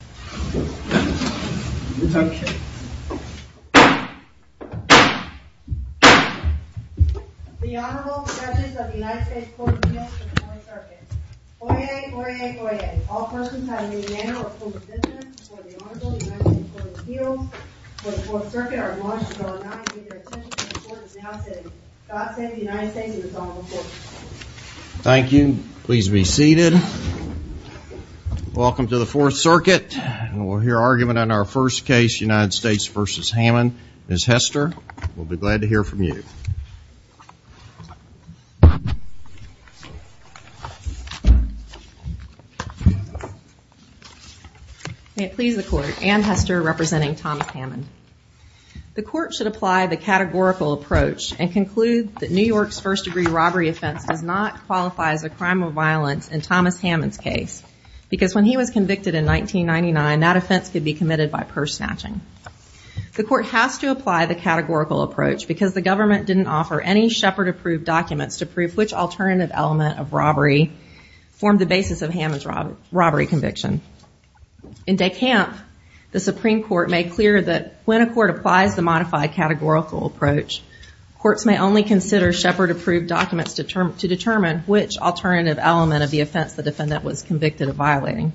The Honorable Judges of the United States Court of Appeals for the Fourth Circuit. Oyez! Oyez! Oyez! All persons having any manner or form of dissonance before the Honorable United States Court of Appeals for the Fourth Circuit are admonished and are allowed to leave their attention until the Court is now sitting. God Save the United States and His Honorable Court. Thank you. Please be seated. Welcome to the Fourth Circuit. We'll hear argument on our first case, United States v. Hammond. Ms. Hester, we'll be glad to hear from you. May it please the Court, Anne Hester representing Thomas Hammond. The Court should apply the categorical approach and conclude that New York's first-degree robbery offense does not qualify as a crime of violence in Thomas Hammond's case. Because when he was convicted in 1999, that offense could be committed by purse snatching. The Court has to apply the categorical approach because the government didn't offer any Shepard-approved documents to prove which alternative element of robbery formed the basis of Hammond's robbery conviction. In De Camp, the Supreme Court made clear that when a court applies the modified categorical approach, courts may only consider Shepard-approved documents to determine which alternative element of the offense the defendant was convicted of violating.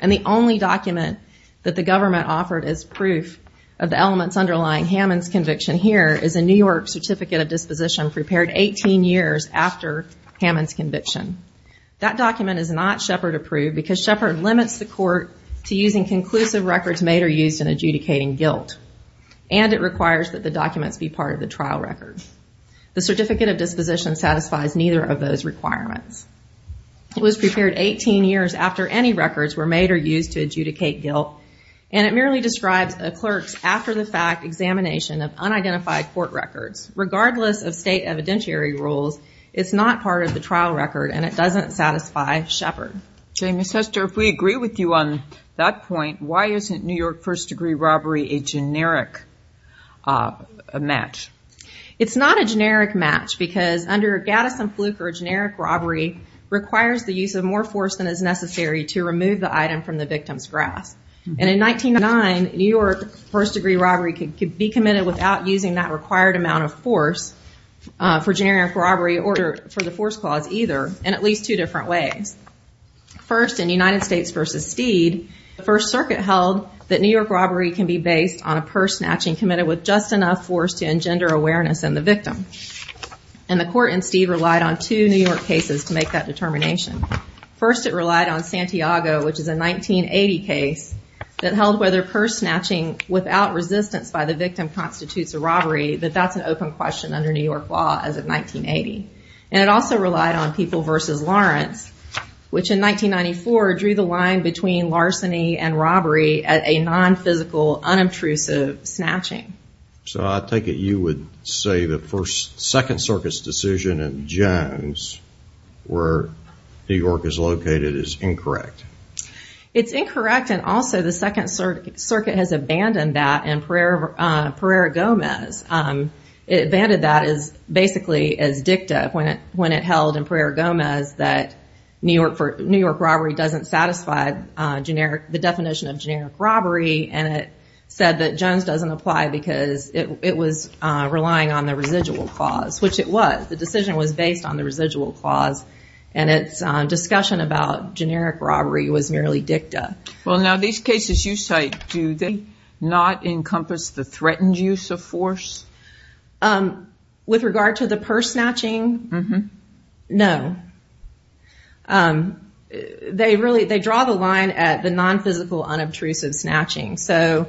And the only document that the government offered as proof of the elements underlying Hammond's conviction here is a New York Certificate of Disposition prepared 18 years after Hammond's conviction. That document is not Shepard-approved because Shepard limits the Court to using conclusive records made or used in adjudicating guilt. And it requires that the documents be part of the trial record. The Certificate of Disposition satisfies neither of those requirements. It was prepared 18 years after any records were made or used to adjudicate guilt. And it merely describes a clerk's after-the-fact examination of unidentified court records. Regardless of state evidentiary rules, it's not part of the trial record, and it doesn't satisfy Shepard. Jane, Ms. Hester, if we agree with you on that point, why isn't New York first-degree robbery a generic match? It's not a generic match because under Gaddis and Fluke, a generic robbery requires the use of more force than is necessary to remove the item from the victim's grasp. And in 1909, New York first-degree robbery could be committed without using that required amount of force for generic robbery or for the force clause either, in at least two different ways. First, in United States v. Steed, the First Circuit held that New York robbery can be based on a person actually committed with just enough force to engender awareness in the victim. And the Court in Steed relied on two New York cases to make that determination. First, it relied on Santiago, which is a 1980 case that held whether purse snatching without resistance by the victim constitutes a robbery, that that's an open question under New York law as of 1980. And it also relied on People v. Lawrence, which in 1994 drew the line between larceny and robbery at a non-physical, unobtrusive snatching. So I take it you would say the Second Circuit's decision in Jones, where New York is located, is incorrect. It's incorrect, and also the Second Circuit has abandoned that in Pereira-Gomez. It abandoned that basically as dicta when it held in Pereira-Gomez that New York robbery doesn't satisfy the definition of generic robbery. And it said that Jones doesn't apply because it was relying on the residual clause, which it was. The decision was based on the residual clause, and its discussion about generic robbery was merely dicta. Well, now these cases you cite, do they not encompass the threatened use of force? With regard to the purse snatching, no. They draw the line at the non-physical, unobtrusive snatching. So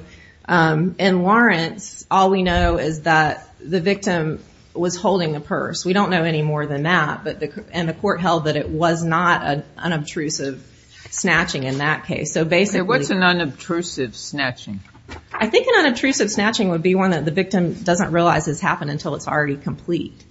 in Lawrence, all we know is that the victim was holding a purse. We don't know any more than that, and the court held that it was not an unobtrusive snatching in that case. What's an unobtrusive snatching? I think an unobtrusive snatching would be one that the victim doesn't realize has happened until it's already complete.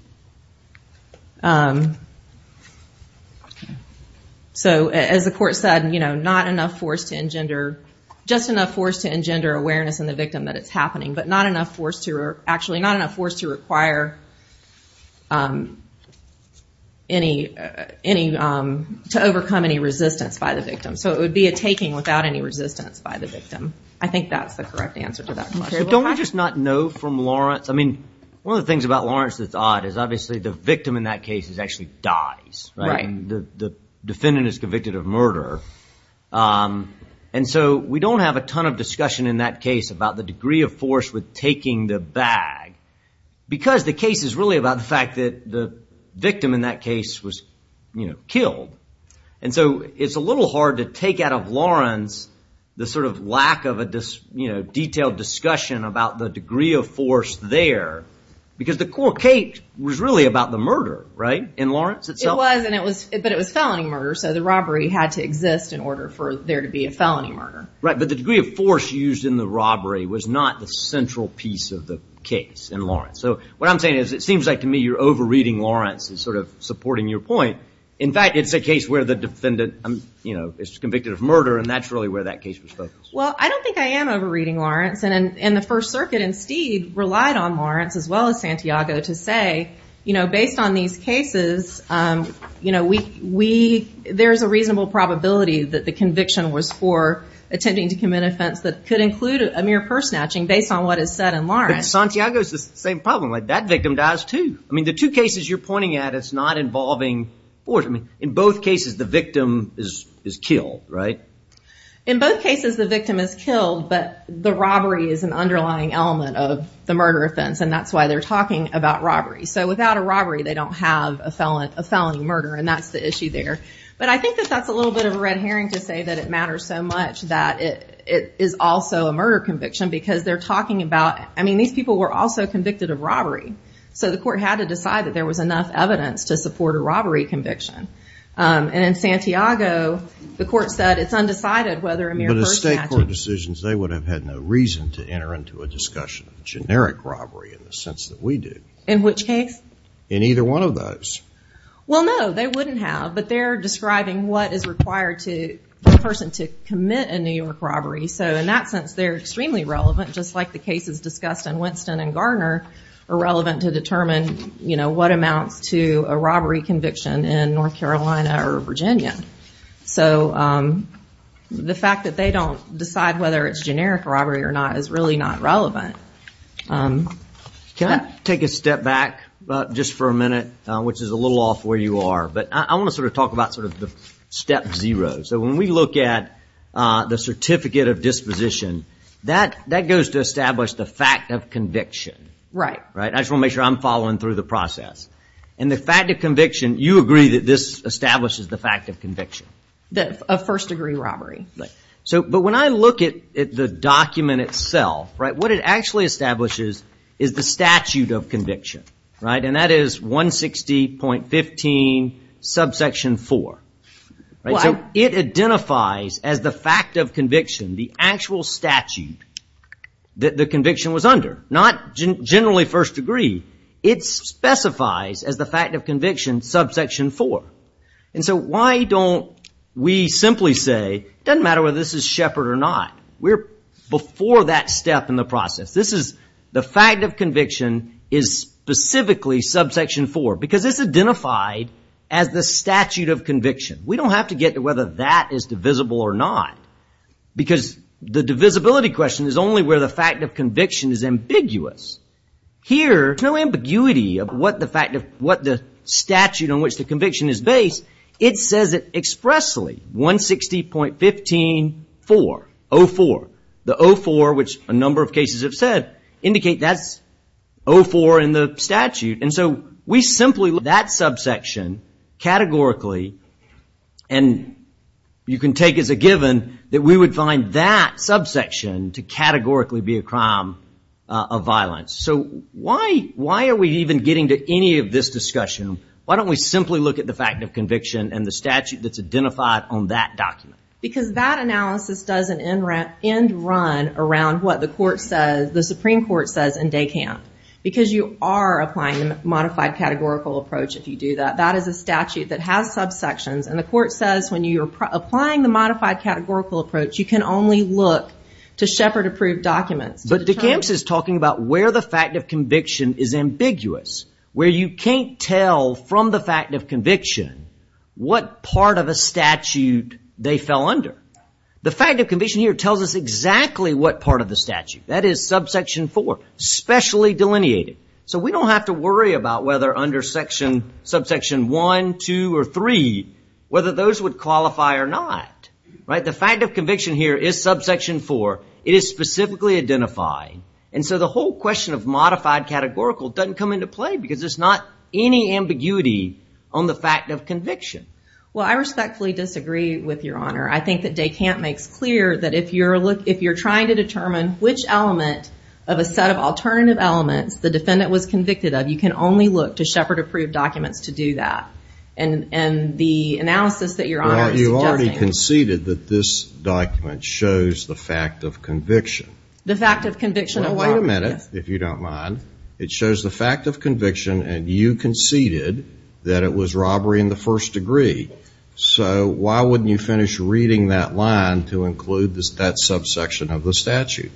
So, as the court said, you know, not enough force to engender, just enough force to engender awareness in the victim that it's happening, but not enough force to, actually not enough force to require any, to overcome any resistance by the victim. So it would be a taking without any resistance by the victim. I think that's the correct answer to that question. Don't we just not know from Lawrence? I mean, one of the things about Lawrence that's odd is obviously the victim in that case actually dies. Right. And the defendant is convicted of murder. And so we don't have a ton of discussion in that case about the degree of force with taking the bag, because the case is really about the fact that the victim in that case was, you know, killed. And so it's a little hard to take out of Lawrence the sort of lack of a, you know, detailed discussion about the degree of force there, because the court case was really about the murder, right, in Lawrence itself? It was, and it was, but it was felony murder, so the robbery had to exist in order for there to be a felony murder. Right, but the degree of force used in the robbery was not the central piece of the case in Lawrence. So what I'm saying is it seems like to me you're over-reading Lawrence and sort of supporting your point. In fact, it's a case where the defendant, you know, is convicted of murder, and that's really where that case was focused. Well, I don't think I am over-reading Lawrence. And the First Circuit, instead, relied on Lawrence as well as Santiago to say, you know, based on these cases, you know, there's a reasonable probability that the conviction was for attempting to commit an offense that could include a mere purse snatching, based on what is said in Lawrence. But Santiago has the same problem. That victim dies, too. I mean, the two cases you're pointing at, it's not involving force. I mean, in both cases, the victim is killed, right? In both cases, the victim is killed, but the robbery is an underlying element of the murder offense, and that's why they're talking about robbery. So without a robbery, they don't have a felony murder, and that's the issue there. But I think that that's a little bit of a red herring to say that it matters so much that it is also a murder conviction, because they're talking about, I mean, these people were also convicted of robbery. So the court had to decide that there was enough evidence to support a robbery conviction. And in Santiago, the court said it's undecided whether a mere purse snatching. But the state court decisions, they would have had no reason to enter into a discussion of generic robbery in the sense that we do. In which case? In either one of those. Well, no, they wouldn't have, but they're describing what is required for a person to commit a New York robbery. So in that sense, they're extremely relevant, just like the cases discussed in Winston and Garner are relevant to determine, you know, what amounts to a robbery conviction in North Carolina or Virginia. So the fact that they don't decide whether it's generic robbery or not is really not relevant. Can I take a step back just for a minute, which is a little off where you are? But I want to sort of talk about sort of the step zero. So when we look at the certificate of disposition, that goes to establish the fact of conviction. Right. I just want to make sure I'm following through the process. And the fact of conviction, you agree that this establishes the fact of conviction? Of first degree robbery. But when I look at the document itself, what it actually establishes is the statute of conviction. And that is 160.15 subsection 4. So it identifies as the fact of conviction, the actual statute that the conviction was under. Not generally first degree. It specifies as the fact of conviction subsection 4. And so why don't we simply say it doesn't matter whether this is Shepard or not. We're before that step in the process. This is the fact of conviction is specifically subsection 4. Because it's identified as the statute of conviction. We don't have to get to whether that is divisible or not. Because the divisibility question is only where the fact of conviction is ambiguous. Here, no ambiguity of what the statute on which the conviction is based. It says it expressly. 160.15.4. 04. The 04, which a number of cases have said, indicate that's 04 in the statute. And so we simply look at that subsection categorically. And you can take as a given that we would find that subsection to categorically be a crime of violence. So why are we even getting to any of this discussion? Why don't we simply look at the fact of conviction and the statute that's identified on that document? Because that analysis does an end run around what the Supreme Court says in DECAMP. Because you are applying the modified categorical approach if you do that. That is a statute that has subsections. And the court says when you're applying the modified categorical approach, you can only look to Shepard approved documents. But DECAMP is talking about where the fact of conviction is ambiguous. Where you can't tell from the fact of conviction what part of a statute they fell under. The fact of conviction here tells us exactly what part of the statute. That is subsection 4, specially delineated. So we don't have to worry about whether under subsection 1, 2, or 3, whether those would qualify or not. The fact of conviction here is subsection 4. It is specifically identified. And so the whole question of modified categorical doesn't come into play because there's not any ambiguity on the fact of conviction. Well, I respectfully disagree with your honor. I think that DECAMP makes clear that if you're trying to determine which element of a set of alternative elements the defendant was convicted of, you can only look to Shepard approved documents to do that. And the analysis that your honor is suggesting... Well, you already conceded that this document shows the fact of conviction. The fact of conviction... Wait a minute, if you don't mind. It shows the fact of conviction and you conceded that it was robbery in the first degree. So why wouldn't you finish reading that line to include that subsection of the statute?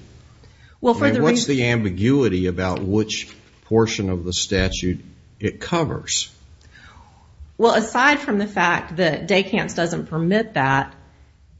What's the ambiguity about which portion of the statute it covers? Well, aside from the fact that DECAMP doesn't permit that,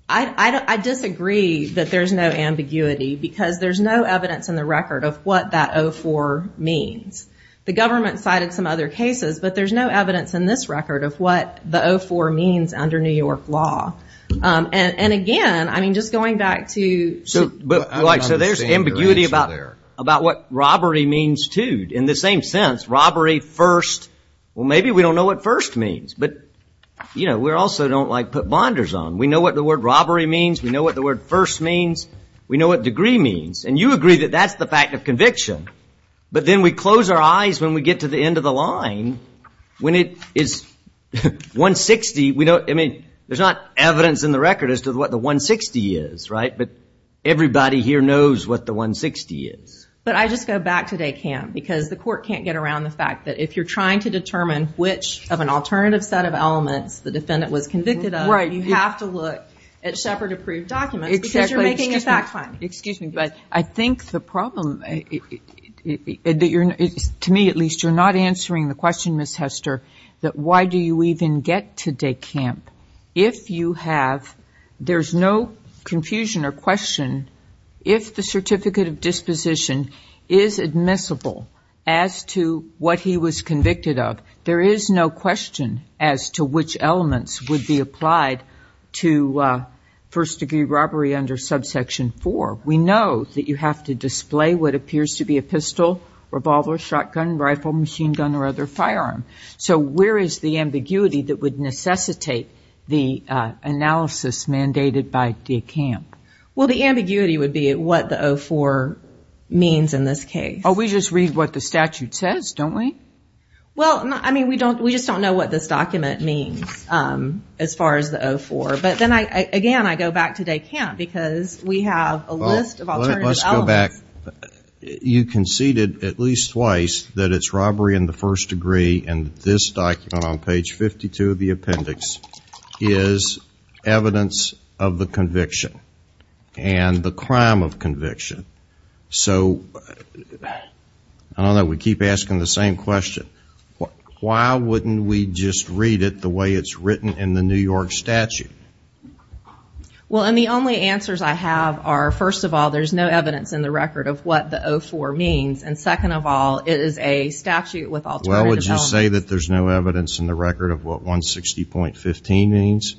I disagree that there's no ambiguity because there's no evidence in the record of what that 04 means. The government cited some other cases, but there's no evidence in this record of what the 04 means under New York law. And again, I mean, just going back to... So there's ambiguity about what robbery means too. In the same sense, robbery first, well, maybe we don't know what first means. But, you know, we also don't like put bonders on. We know what the word robbery means. We know what the word first means. We know what degree means. And you agree that that's the fact of conviction. But then we close our eyes when we get to the end of the line. When it is 160, we don't, I mean, there's not evidence in the record as to what the 160 is, right? But everybody here knows what the 160 is. But I just go back to DECAMP because the court can't get around the fact that if you're trying to determine which of an alternative set of elements the defendant was convicted of, you have to look at Shepard-approved documents because you're making a fact find. Excuse me, but I think the problem, to me at least, you're not answering the question, Ms. Hester, that why do you even get to DECAMP if you have, there's no confusion or question, if the certificate of disposition is admissible as to what he was convicted of, there is no question as to which elements would be applied to first-degree robbery under subsection 4. We know that you have to display what appears to be a pistol, revolver, shotgun, rifle, machine gun, or other firearm. So where is the ambiguity that would necessitate the analysis mandated by DECAMP? Well, the ambiguity would be what the 04 means in this case. Oh, we just read what the statute says, don't we? Well, I mean, we just don't know what this document means as far as the 04. But then again, I go back to DECAMP because we have a list of alternative elements. Well, let's go back. You conceded at least twice that it's robbery in the first degree, and this document on page 52 of the appendix is evidence of the conviction and the crime of conviction. So, I don't know, we keep asking the same question. Why wouldn't we just read it the way it's written in the New York statute? Well, and the only answers I have are, first of all, there's no evidence in the record of what the 04 means, and second of all, it is a statute with alternative elements. Well, would you say that there's no evidence in the record of what 160.15 means?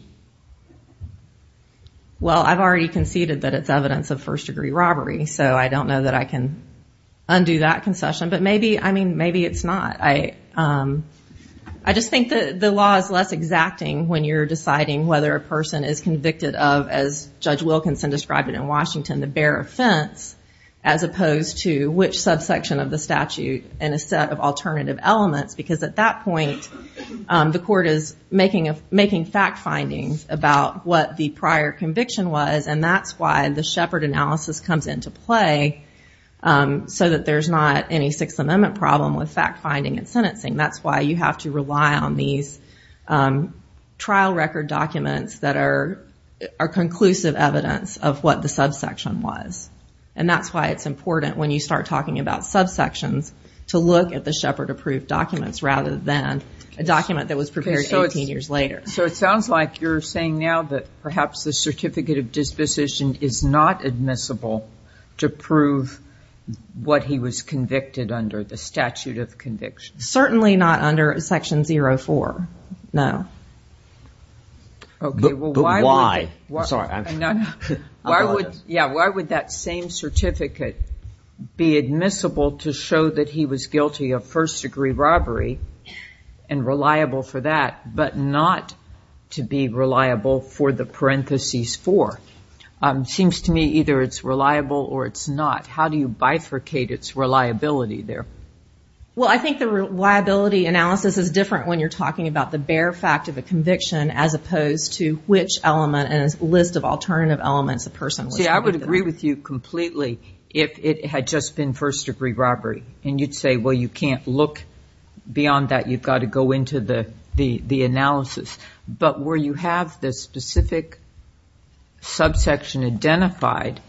Well, I've already conceded that it's evidence of first degree robbery, so I don't know that I can undo that concession, but maybe, I mean, maybe it's not. I just think that the law is less exacting when you're deciding whether a person is convicted of, as Judge Wilkinson described it in Washington, the bare offense, as opposed to which subsection of the statute in a set of alternative elements, because at that point, the court is making fact findings about what the prior conviction was, and that's why the Shepard analysis comes into play, so that there's not any Sixth Amendment problem with fact finding and sentencing. That's why you have to rely on these trial record documents that are conclusive evidence of what the subsection was, and that's why it's important when you start talking about subsections to look at the Shepard-approved documents rather than a document that was prepared 18 years later. So it sounds like you're saying now that perhaps the certificate of disposition is not admissible to prove what he was convicted under, the statute of conviction. Certainly not under Section 04, no. But why? Why would that same certificate be admissible to show that he was guilty of first-degree robbery and reliable for that, but not to be reliable for the parentheses four? It seems to me either it's reliable or it's not. How do you bifurcate its reliability there? Well, I think the reliability analysis is different when you're talking about the bare fact of a conviction as opposed to which element and a list of alternative elements a person was convicted under. See, I would agree with you completely if it had just been first-degree robbery, and you'd say, well, you can't look beyond that. You've got to go into the analysis. But where you have the specific subsection identified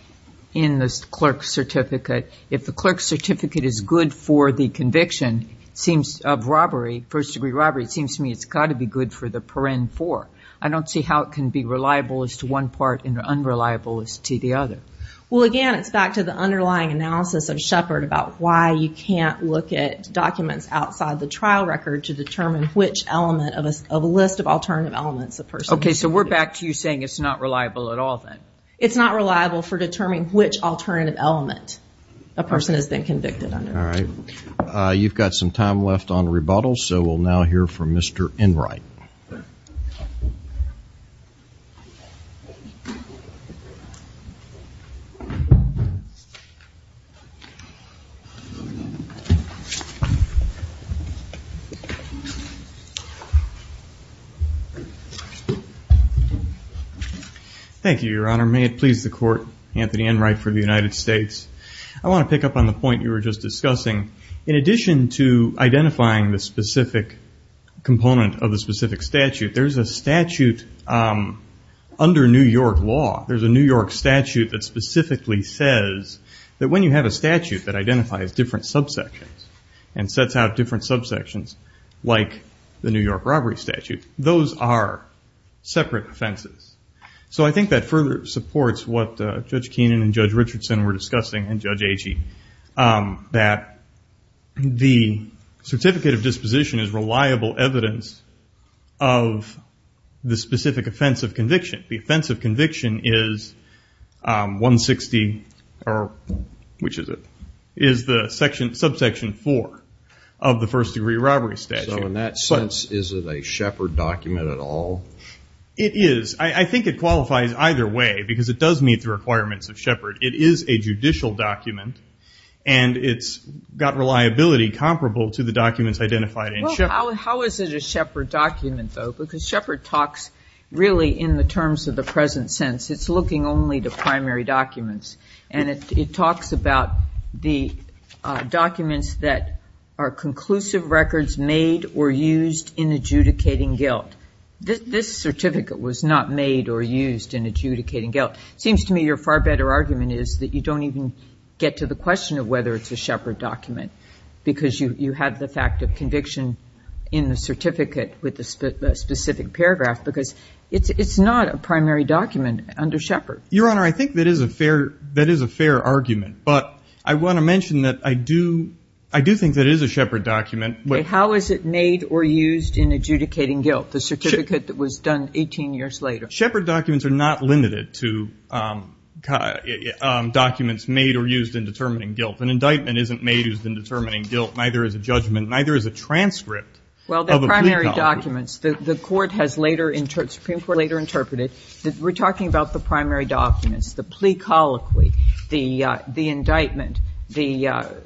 in the clerk's certificate, if the clerk's certificate is good for the conviction of robbery, first-degree robbery, it seems to me it's got to be good for the paren four. I don't see how it can be reliable as to one part and unreliable as to the other. Well, again, it's back to the underlying analysis of Shepard about why you can't look at documents outside the trial record to determine which element of a list of alternative elements a person was convicted under. Okay, so we're back to you saying it's not reliable at all then. It's not reliable for determining which alternative element a person has been convicted under. All right. You've got some time left on rebuttals, so we'll now hear from Mr. Enright. Thank you, Your Honor. May it please the Court, Anthony Enright for the United States. I want to pick up on the point you were just discussing. In addition to identifying the specific component of the specific statute, there's a statute under New York law, there's a New York statute that specifically says that when you have a statute that identifies different subsections and sets out different subsections like the New York robbery statute, those are separate offenses. So I think that further supports what Judge Keenan and Judge Richardson were discussing and Judge Agee, that the certificate of disposition is reliable evidence of the specific offense of conviction. The offense of conviction is 160, or which is it, is the subsection 4 of the first degree robbery statute. So in that sense, is it a Shepard document at all? It is. I think it qualifies either way because it does meet the requirements of Shepard. It is a judicial document, and it's got reliability comparable to the documents identified in Shepard. How is it a Shepard document, though? Because Shepard talks really in the terms of the present sense. It's looking only to primary documents, and it talks about the documents that are conclusive records made or used in adjudicating guilt. This certificate was not made or used in adjudicating guilt. It seems to me your far better argument is that you don't even get to the question of whether it's a Shepard document because you have the fact of conviction in the certificate with the specific paragraph because it's not a primary document under Shepard. Your Honor, I think that is a fair argument, but I want to mention that I do think that it is a Shepard document. Okay. How is it made or used in adjudicating guilt, the certificate that was done 18 years later? Shepard documents are not limited to documents made or used in determining guilt. An indictment isn't made or used in determining guilt, neither is a judgment, neither is a transcript of a plea colloquy. Well, the primary documents, the Supreme Court later interpreted, we're talking about the primary documents, the plea colloquy, the indictment, the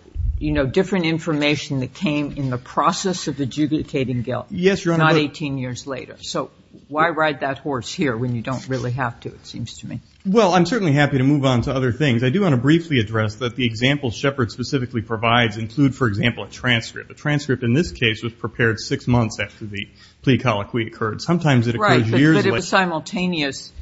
different information that came in the process of adjudicating guilt. Yes, Your Honor. Not 18 years later. So why ride that horse here when you don't really have to, it seems to me. Well, I'm certainly happy to move on to other things. I do want to briefly address that the examples Shepard specifically provides include, for example, a transcript. A transcript in this case was prepared six months after the plea colloquy occurred. Sometimes it occurs years later. Right, but it was simultaneous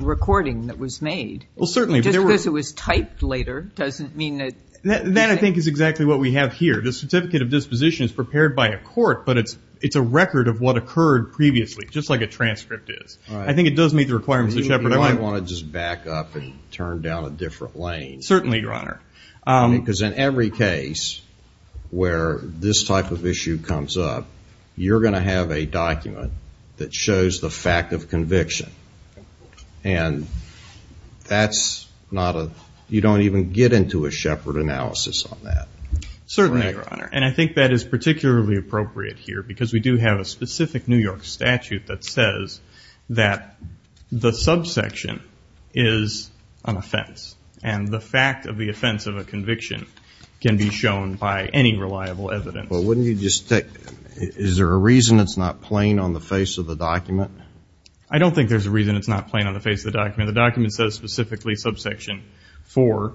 recording that was made. Well, certainly. Just because it was typed later doesn't mean that. That, I think, is exactly what we have here. The certificate of disposition is prepared by a court, but it's a record of what occurred previously, just like a transcript is. I think it does meet the requirements of Shepard. You might want to just back up and turn down a different lane. Certainly, Your Honor. Because in every case where this type of issue comes up, you're going to have a document that shows the fact of conviction. And that's not a, you don't even get into a Shepard analysis on that. Certainly, Your Honor, and I think that is particularly appropriate here because we do have a specific New York statute that says that the subsection is an offense, and the fact of the offense of a conviction can be shown by any reliable evidence. But wouldn't you just take, is there a reason it's not plain on the face of the document? I don't think there's a reason it's not plain on the face of the document. The document says specifically subsection 4.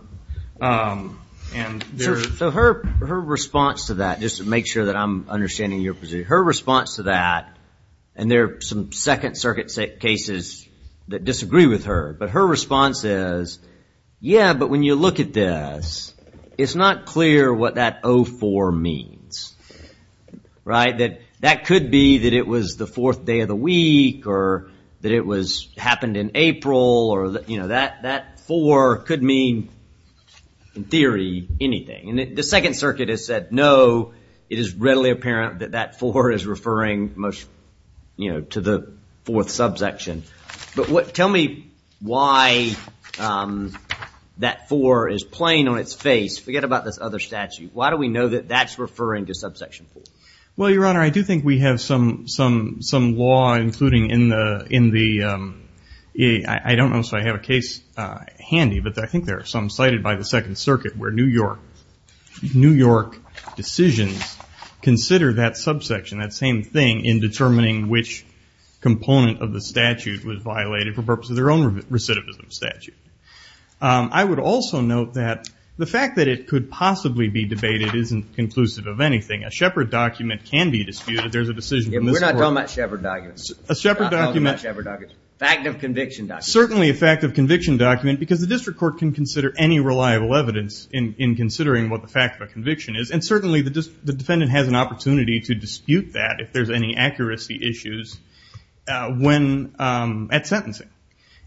So her response to that, just to make sure that I'm understanding your position, her response to that, and there are some Second Circuit cases that disagree with her, but her response is, yeah, but when you look at this, it's not clear what that 04 means. That could be that it was the fourth day of the week, or that it happened in April, or that 04 could mean, in theory, anything. The Second Circuit has said, no, it is readily apparent that that 04 is referring to the fourth subsection. But tell me why that 04 is plain on its face. Forget about this other statute. Why do we know that that's referring to subsection 4? Well, Your Honor, I do think we have some law including in the, I don't know if I have a case handy, but I think there are some cited by the Second Circuit where New York decisions consider that subsection, that same thing, in determining which component of the statute was violated for the purpose of their own recidivism statute. I would also note that the fact that it could possibly be debated isn't conclusive of anything. A Shepard document can be disputed. There's a decision from this court. We're not talking about Shepard documents. A Shepard document. We're not talking about Shepard documents. Fact of conviction documents. Certainly a fact of conviction document, because the district court can consider any reliable evidence in considering what the fact of a conviction is, and certainly the defendant has an opportunity to dispute that if there's any accuracy issues at sentencing.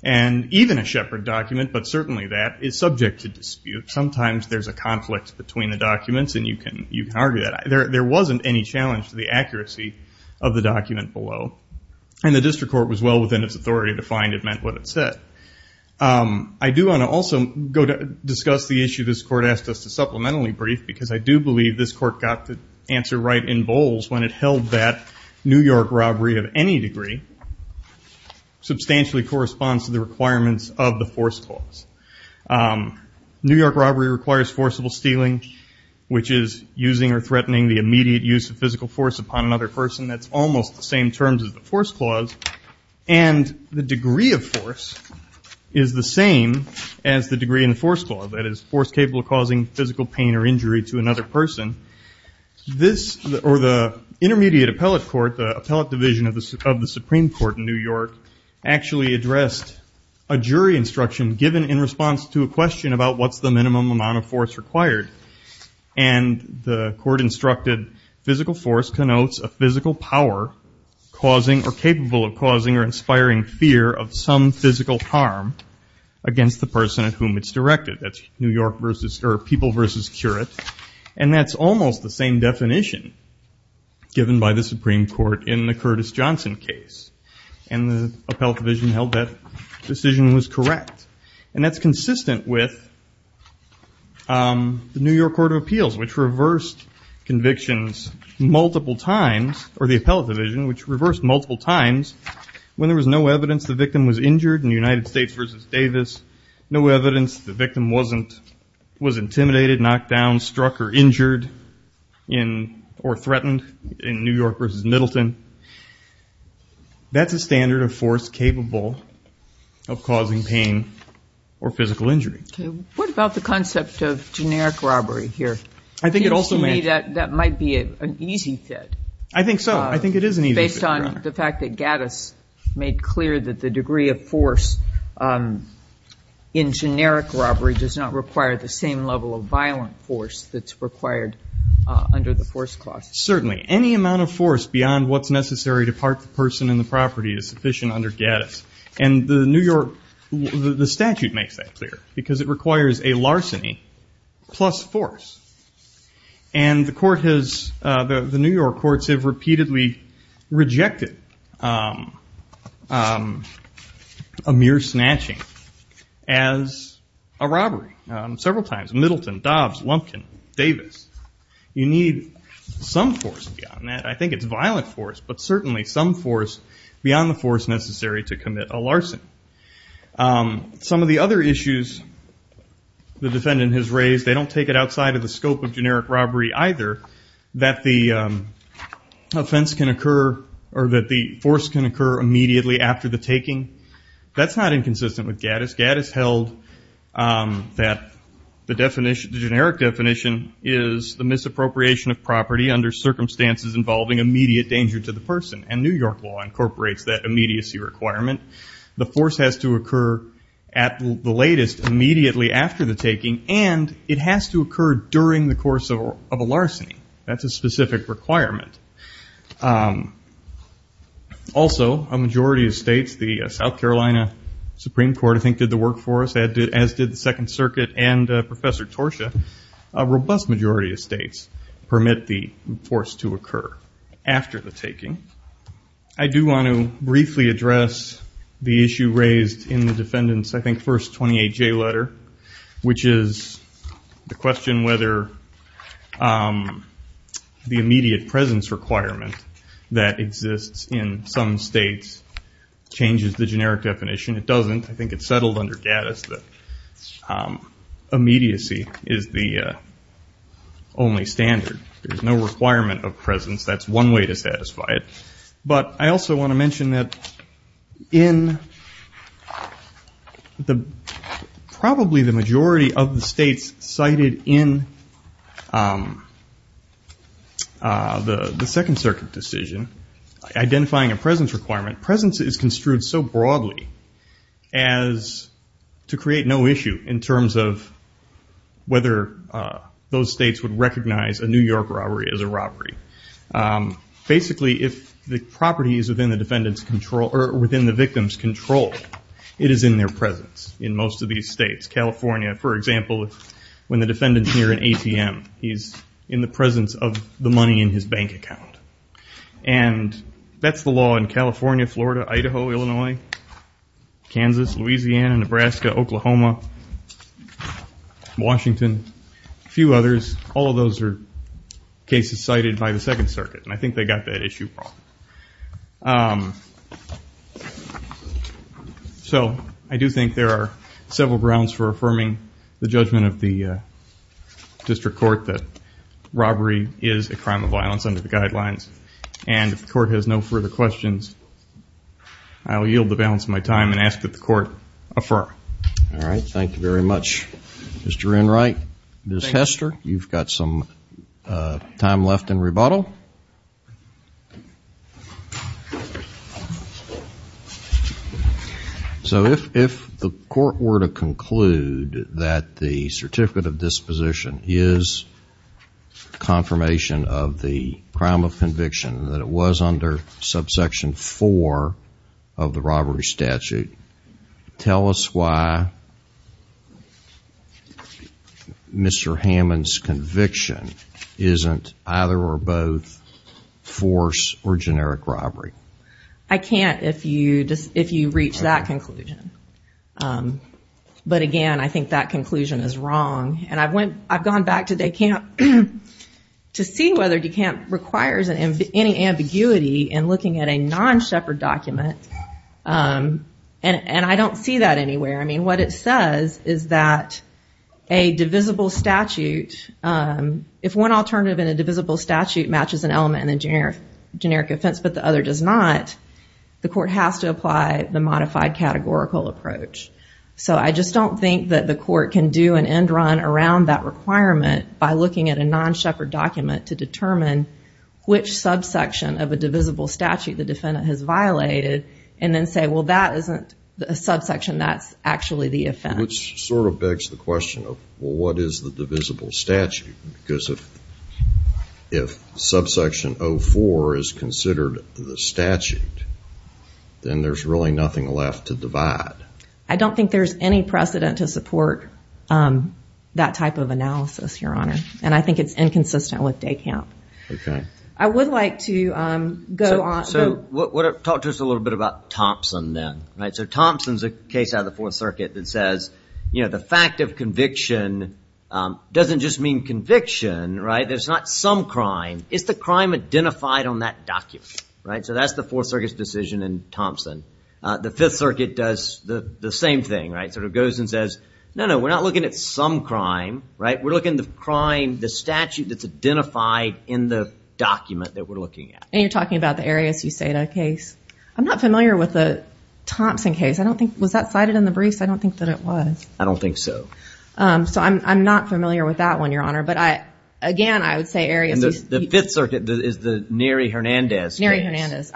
And even a Shepard document, but certainly that, is subject to dispute. Sometimes there's a conflict between the documents, and you can argue that. There wasn't any challenge to the accuracy of the document below, and the district court was well within its authority to find it meant what it said. I do want to also discuss the issue this court asked us to supplementally brief, because I do believe this court got the answer right in bowls when it held that New York robbery of any degree, substantially corresponds to the requirements of the force clause. New York robbery requires forcible stealing, which is using or threatening the immediate use of physical force upon another person. That's almost the same terms as the force clause, and the degree of force is the same as the degree in the force clause. That is, force capable of causing physical pain or injury to another person. This, or the intermediate appellate court, the appellate division of the Supreme Court in New York, actually addressed a jury instruction given in response to a question about what's the minimum amount of force required. And the court instructed, physical force connotes a physical power causing or capable of causing or inspiring fear of some physical harm against the person at whom it's directed. That's New York versus, or people versus curate. And that's almost the same definition given by the Supreme Court in the Curtis Johnson case. And the appellate division held that decision was correct. And that's consistent with the New York Court of Appeals, which reversed convictions multiple times, or the appellate division, which reversed multiple times when there was no evidence the victim was injured in the United States versus Davis, no evidence the victim was intimidated, knocked down, struck, or injured, or threatened in New York versus Middleton. That's a standard of force capable of causing pain or physical injury. Okay. What about the concept of generic robbery here? I think it also may be that that might be an easy fit. I think so. I think it is an easy fit, Your Honor. Based on the fact that Gaddis made clear that the degree of force in generic robbery does not require the same level of violent force that's required under the force clause. Certainly. Any amount of force beyond what's necessary to part the person in the property is sufficient under Gaddis. And the New York statute makes that clear because it requires a larceny plus force. And the New York courts have repeatedly rejected a mere snatching as a robbery several times. Middleton, Dobbs, Lumpkin, Davis. You need some force beyond that. I think it's violent force, but certainly some force beyond the force necessary to commit a larceny. Some of the other issues the defendant has raised, they don't take it outside of the scope of generic robbery either, that the offense can occur or that the force can occur immediately after the taking. That's not inconsistent with Gaddis. Gaddis held that the generic definition is the misappropriation of property under circumstances involving immediate danger to the person. And New York law incorporates that immediacy requirement. The force has to occur at the latest, immediately after the taking, and it has to occur during the course of a larceny. That's a specific requirement. Also, a majority of states, the South Carolina Supreme Court, I think, did the work for us, as did the Second Circuit and Professor Torsha. A robust majority of states permit the force to occur after the taking. I do want to briefly address the issue raised in the defendant's, I think, first 28J letter, which is the question whether the immediate presence requirement that exists in some states changes the generic definition. It doesn't. I think it's settled under Gaddis that immediacy is the only standard. There's no requirement of presence. That's one way to satisfy it. But I also want to mention that in probably the majority of the states cited in the Second Circuit decision, identifying a presence requirement, presence is construed so broadly as to create no issue in terms of whether those states would recognize a New York robbery as a robbery. Basically, if the property is within the victim's control, it is in their presence in most of these states. California, for example, when the defendant's near an ATM, he's in the presence of the money in his bank account. And that's the law in California, Florida, Idaho, Illinois, Kansas, Louisiana, Nebraska, Oklahoma, Washington, a few others, all of those are cases cited by the Second Circuit. And I think they got that issue. So I do think there are several grounds for affirming the judgment of the district court that robbery is a crime of violence under the guidelines. And if the court has no further questions, I will yield the balance of my time and ask that the court affirm. All right. Thank you very much, Mr. Enright. Ms. Hester, you've got some time left in rebuttal. So if the court were to conclude that the certificate of disposition is confirmation of the crime of conviction, that it was under subsection 4 of the robbery statute, tell us why Mr. Hammond's conviction isn't either or both force or generic robbery. I can't if you reach that conclusion. But again, I think that conclusion is wrong. And I've gone back to DeKalb to see whether DeKalb requires any ambiguity in looking at a non-Shepard document. And I don't see that anywhere. I mean, what it says is that a divisible statute, if one alternative in a divisible statute matches an element in a generic offense but the other does not, the court has to apply the modified categorical approach. So I just don't think that the court can do an end run around that requirement by looking at a non-Shepard document to determine which subsection of a divisible statute the defendant has violated and then say, well, that isn't a subsection, that's actually the offense. Which sort of begs the question of, well, what is the divisible statute? Because if subsection 04 is considered the statute, then there's really nothing left to divide. I don't think there's any precedent to support that type of analysis, Your Honor. And I think it's inconsistent with DeKalb. I would like to go on. So talk to us a little bit about Thompson then. So Thompson's a case out of the Fourth Circuit that says, you know, the fact of conviction doesn't just mean conviction, right? There's not some crime. It's the crime identified on that document. So that's the Fourth Circuit's decision in Thompson. The Fifth Circuit does the same thing, right? Sort of goes and says, no, no, we're not looking at some crime, right? We're looking at the crime, the statute that's identified in the document that we're looking at. And you're talking about the Arias-Euseda case. I'm not familiar with the Thompson case. I don't think, was that cited in the briefs? I don't think that it was. I don't think so. So I'm not familiar with that one, Your Honor. But again, I would say Arias- And the Fifth Circuit is the Neri Hernandez case. Neri Hernandez.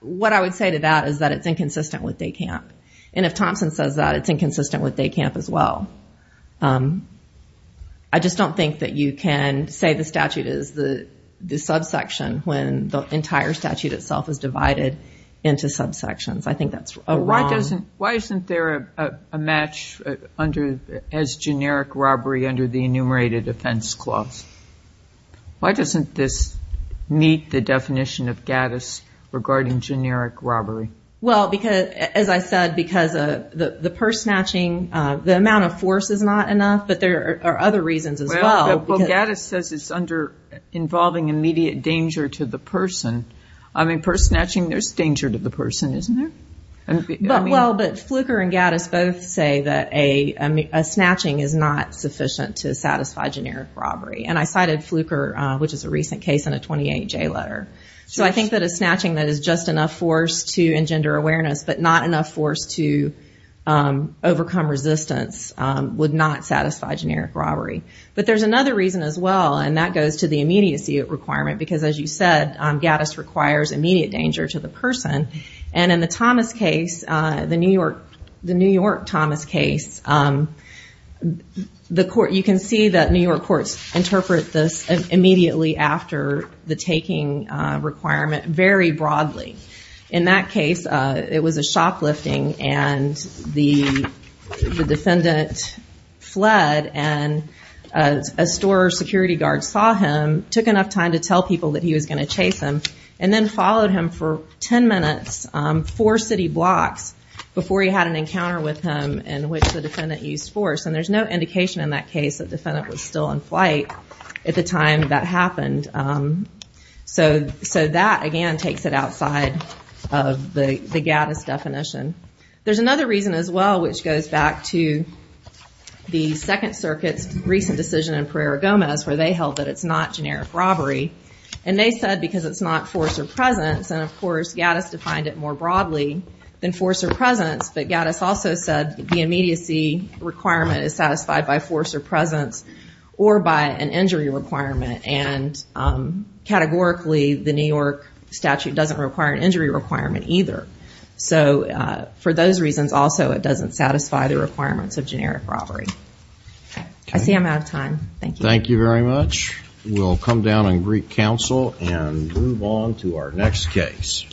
What I would say to that is that it's inconsistent with DECAMP. And if Thompson says that, it's inconsistent with DECAMP as well. I just don't think that you can say the statute is the subsection when the entire statute itself is divided into subsections. I think that's wrong. Why isn't there a match as generic robbery under the enumerated offense clause? Why doesn't this meet the definition of GADIS regarding generic robbery? Well, because, as I said, because the purse snatching, the amount of force is not enough. But there are other reasons as well. Well, GADIS says it's under involving immediate danger to the person. I mean, purse snatching, there's danger to the person, isn't there? Well, but Fluker and GADIS both say that a snatching is not sufficient to satisfy generic robbery. And I cited Fluker, which is a recent case, in a 28-J letter. So I think that a snatching that is just enough force to engender awareness, but not enough force to overcome resistance, would not satisfy generic robbery. But there's another reason as well, and that goes to the immediacy requirement. Because, as you said, GADIS requires immediate danger to the person. And in the Thomas case, the New York Thomas case, you can see that New York courts interpret this immediately after the taking requirement very broadly. In that case, it was a shoplifting, and the defendant fled, and a store security guard saw him, took enough time to tell people that he was going to chase him, and then followed him for 10 minutes, four city blocks, before he had an encounter with him, in which the defendant used force. And there's no indication in that case that the defendant was still in flight at the time that happened. So that, again, takes it outside of the GADIS definition. There's another reason as well, which goes back to the Second Circuit's recent decision in Pereira-Gomez, where they held that it's not generic robbery. And they said because it's not force or presence. And, of course, GADIS defined it more broadly than force or presence. But GADIS also said the immediacy requirement is satisfied by force or presence or by an injury requirement. And categorically, the New York statute doesn't require an injury requirement either. So for those reasons also, it doesn't satisfy the requirements of generic robbery. I see I'm out of time. Thank you. Thank you very much. We'll come down and greet counsel and move on to our next case.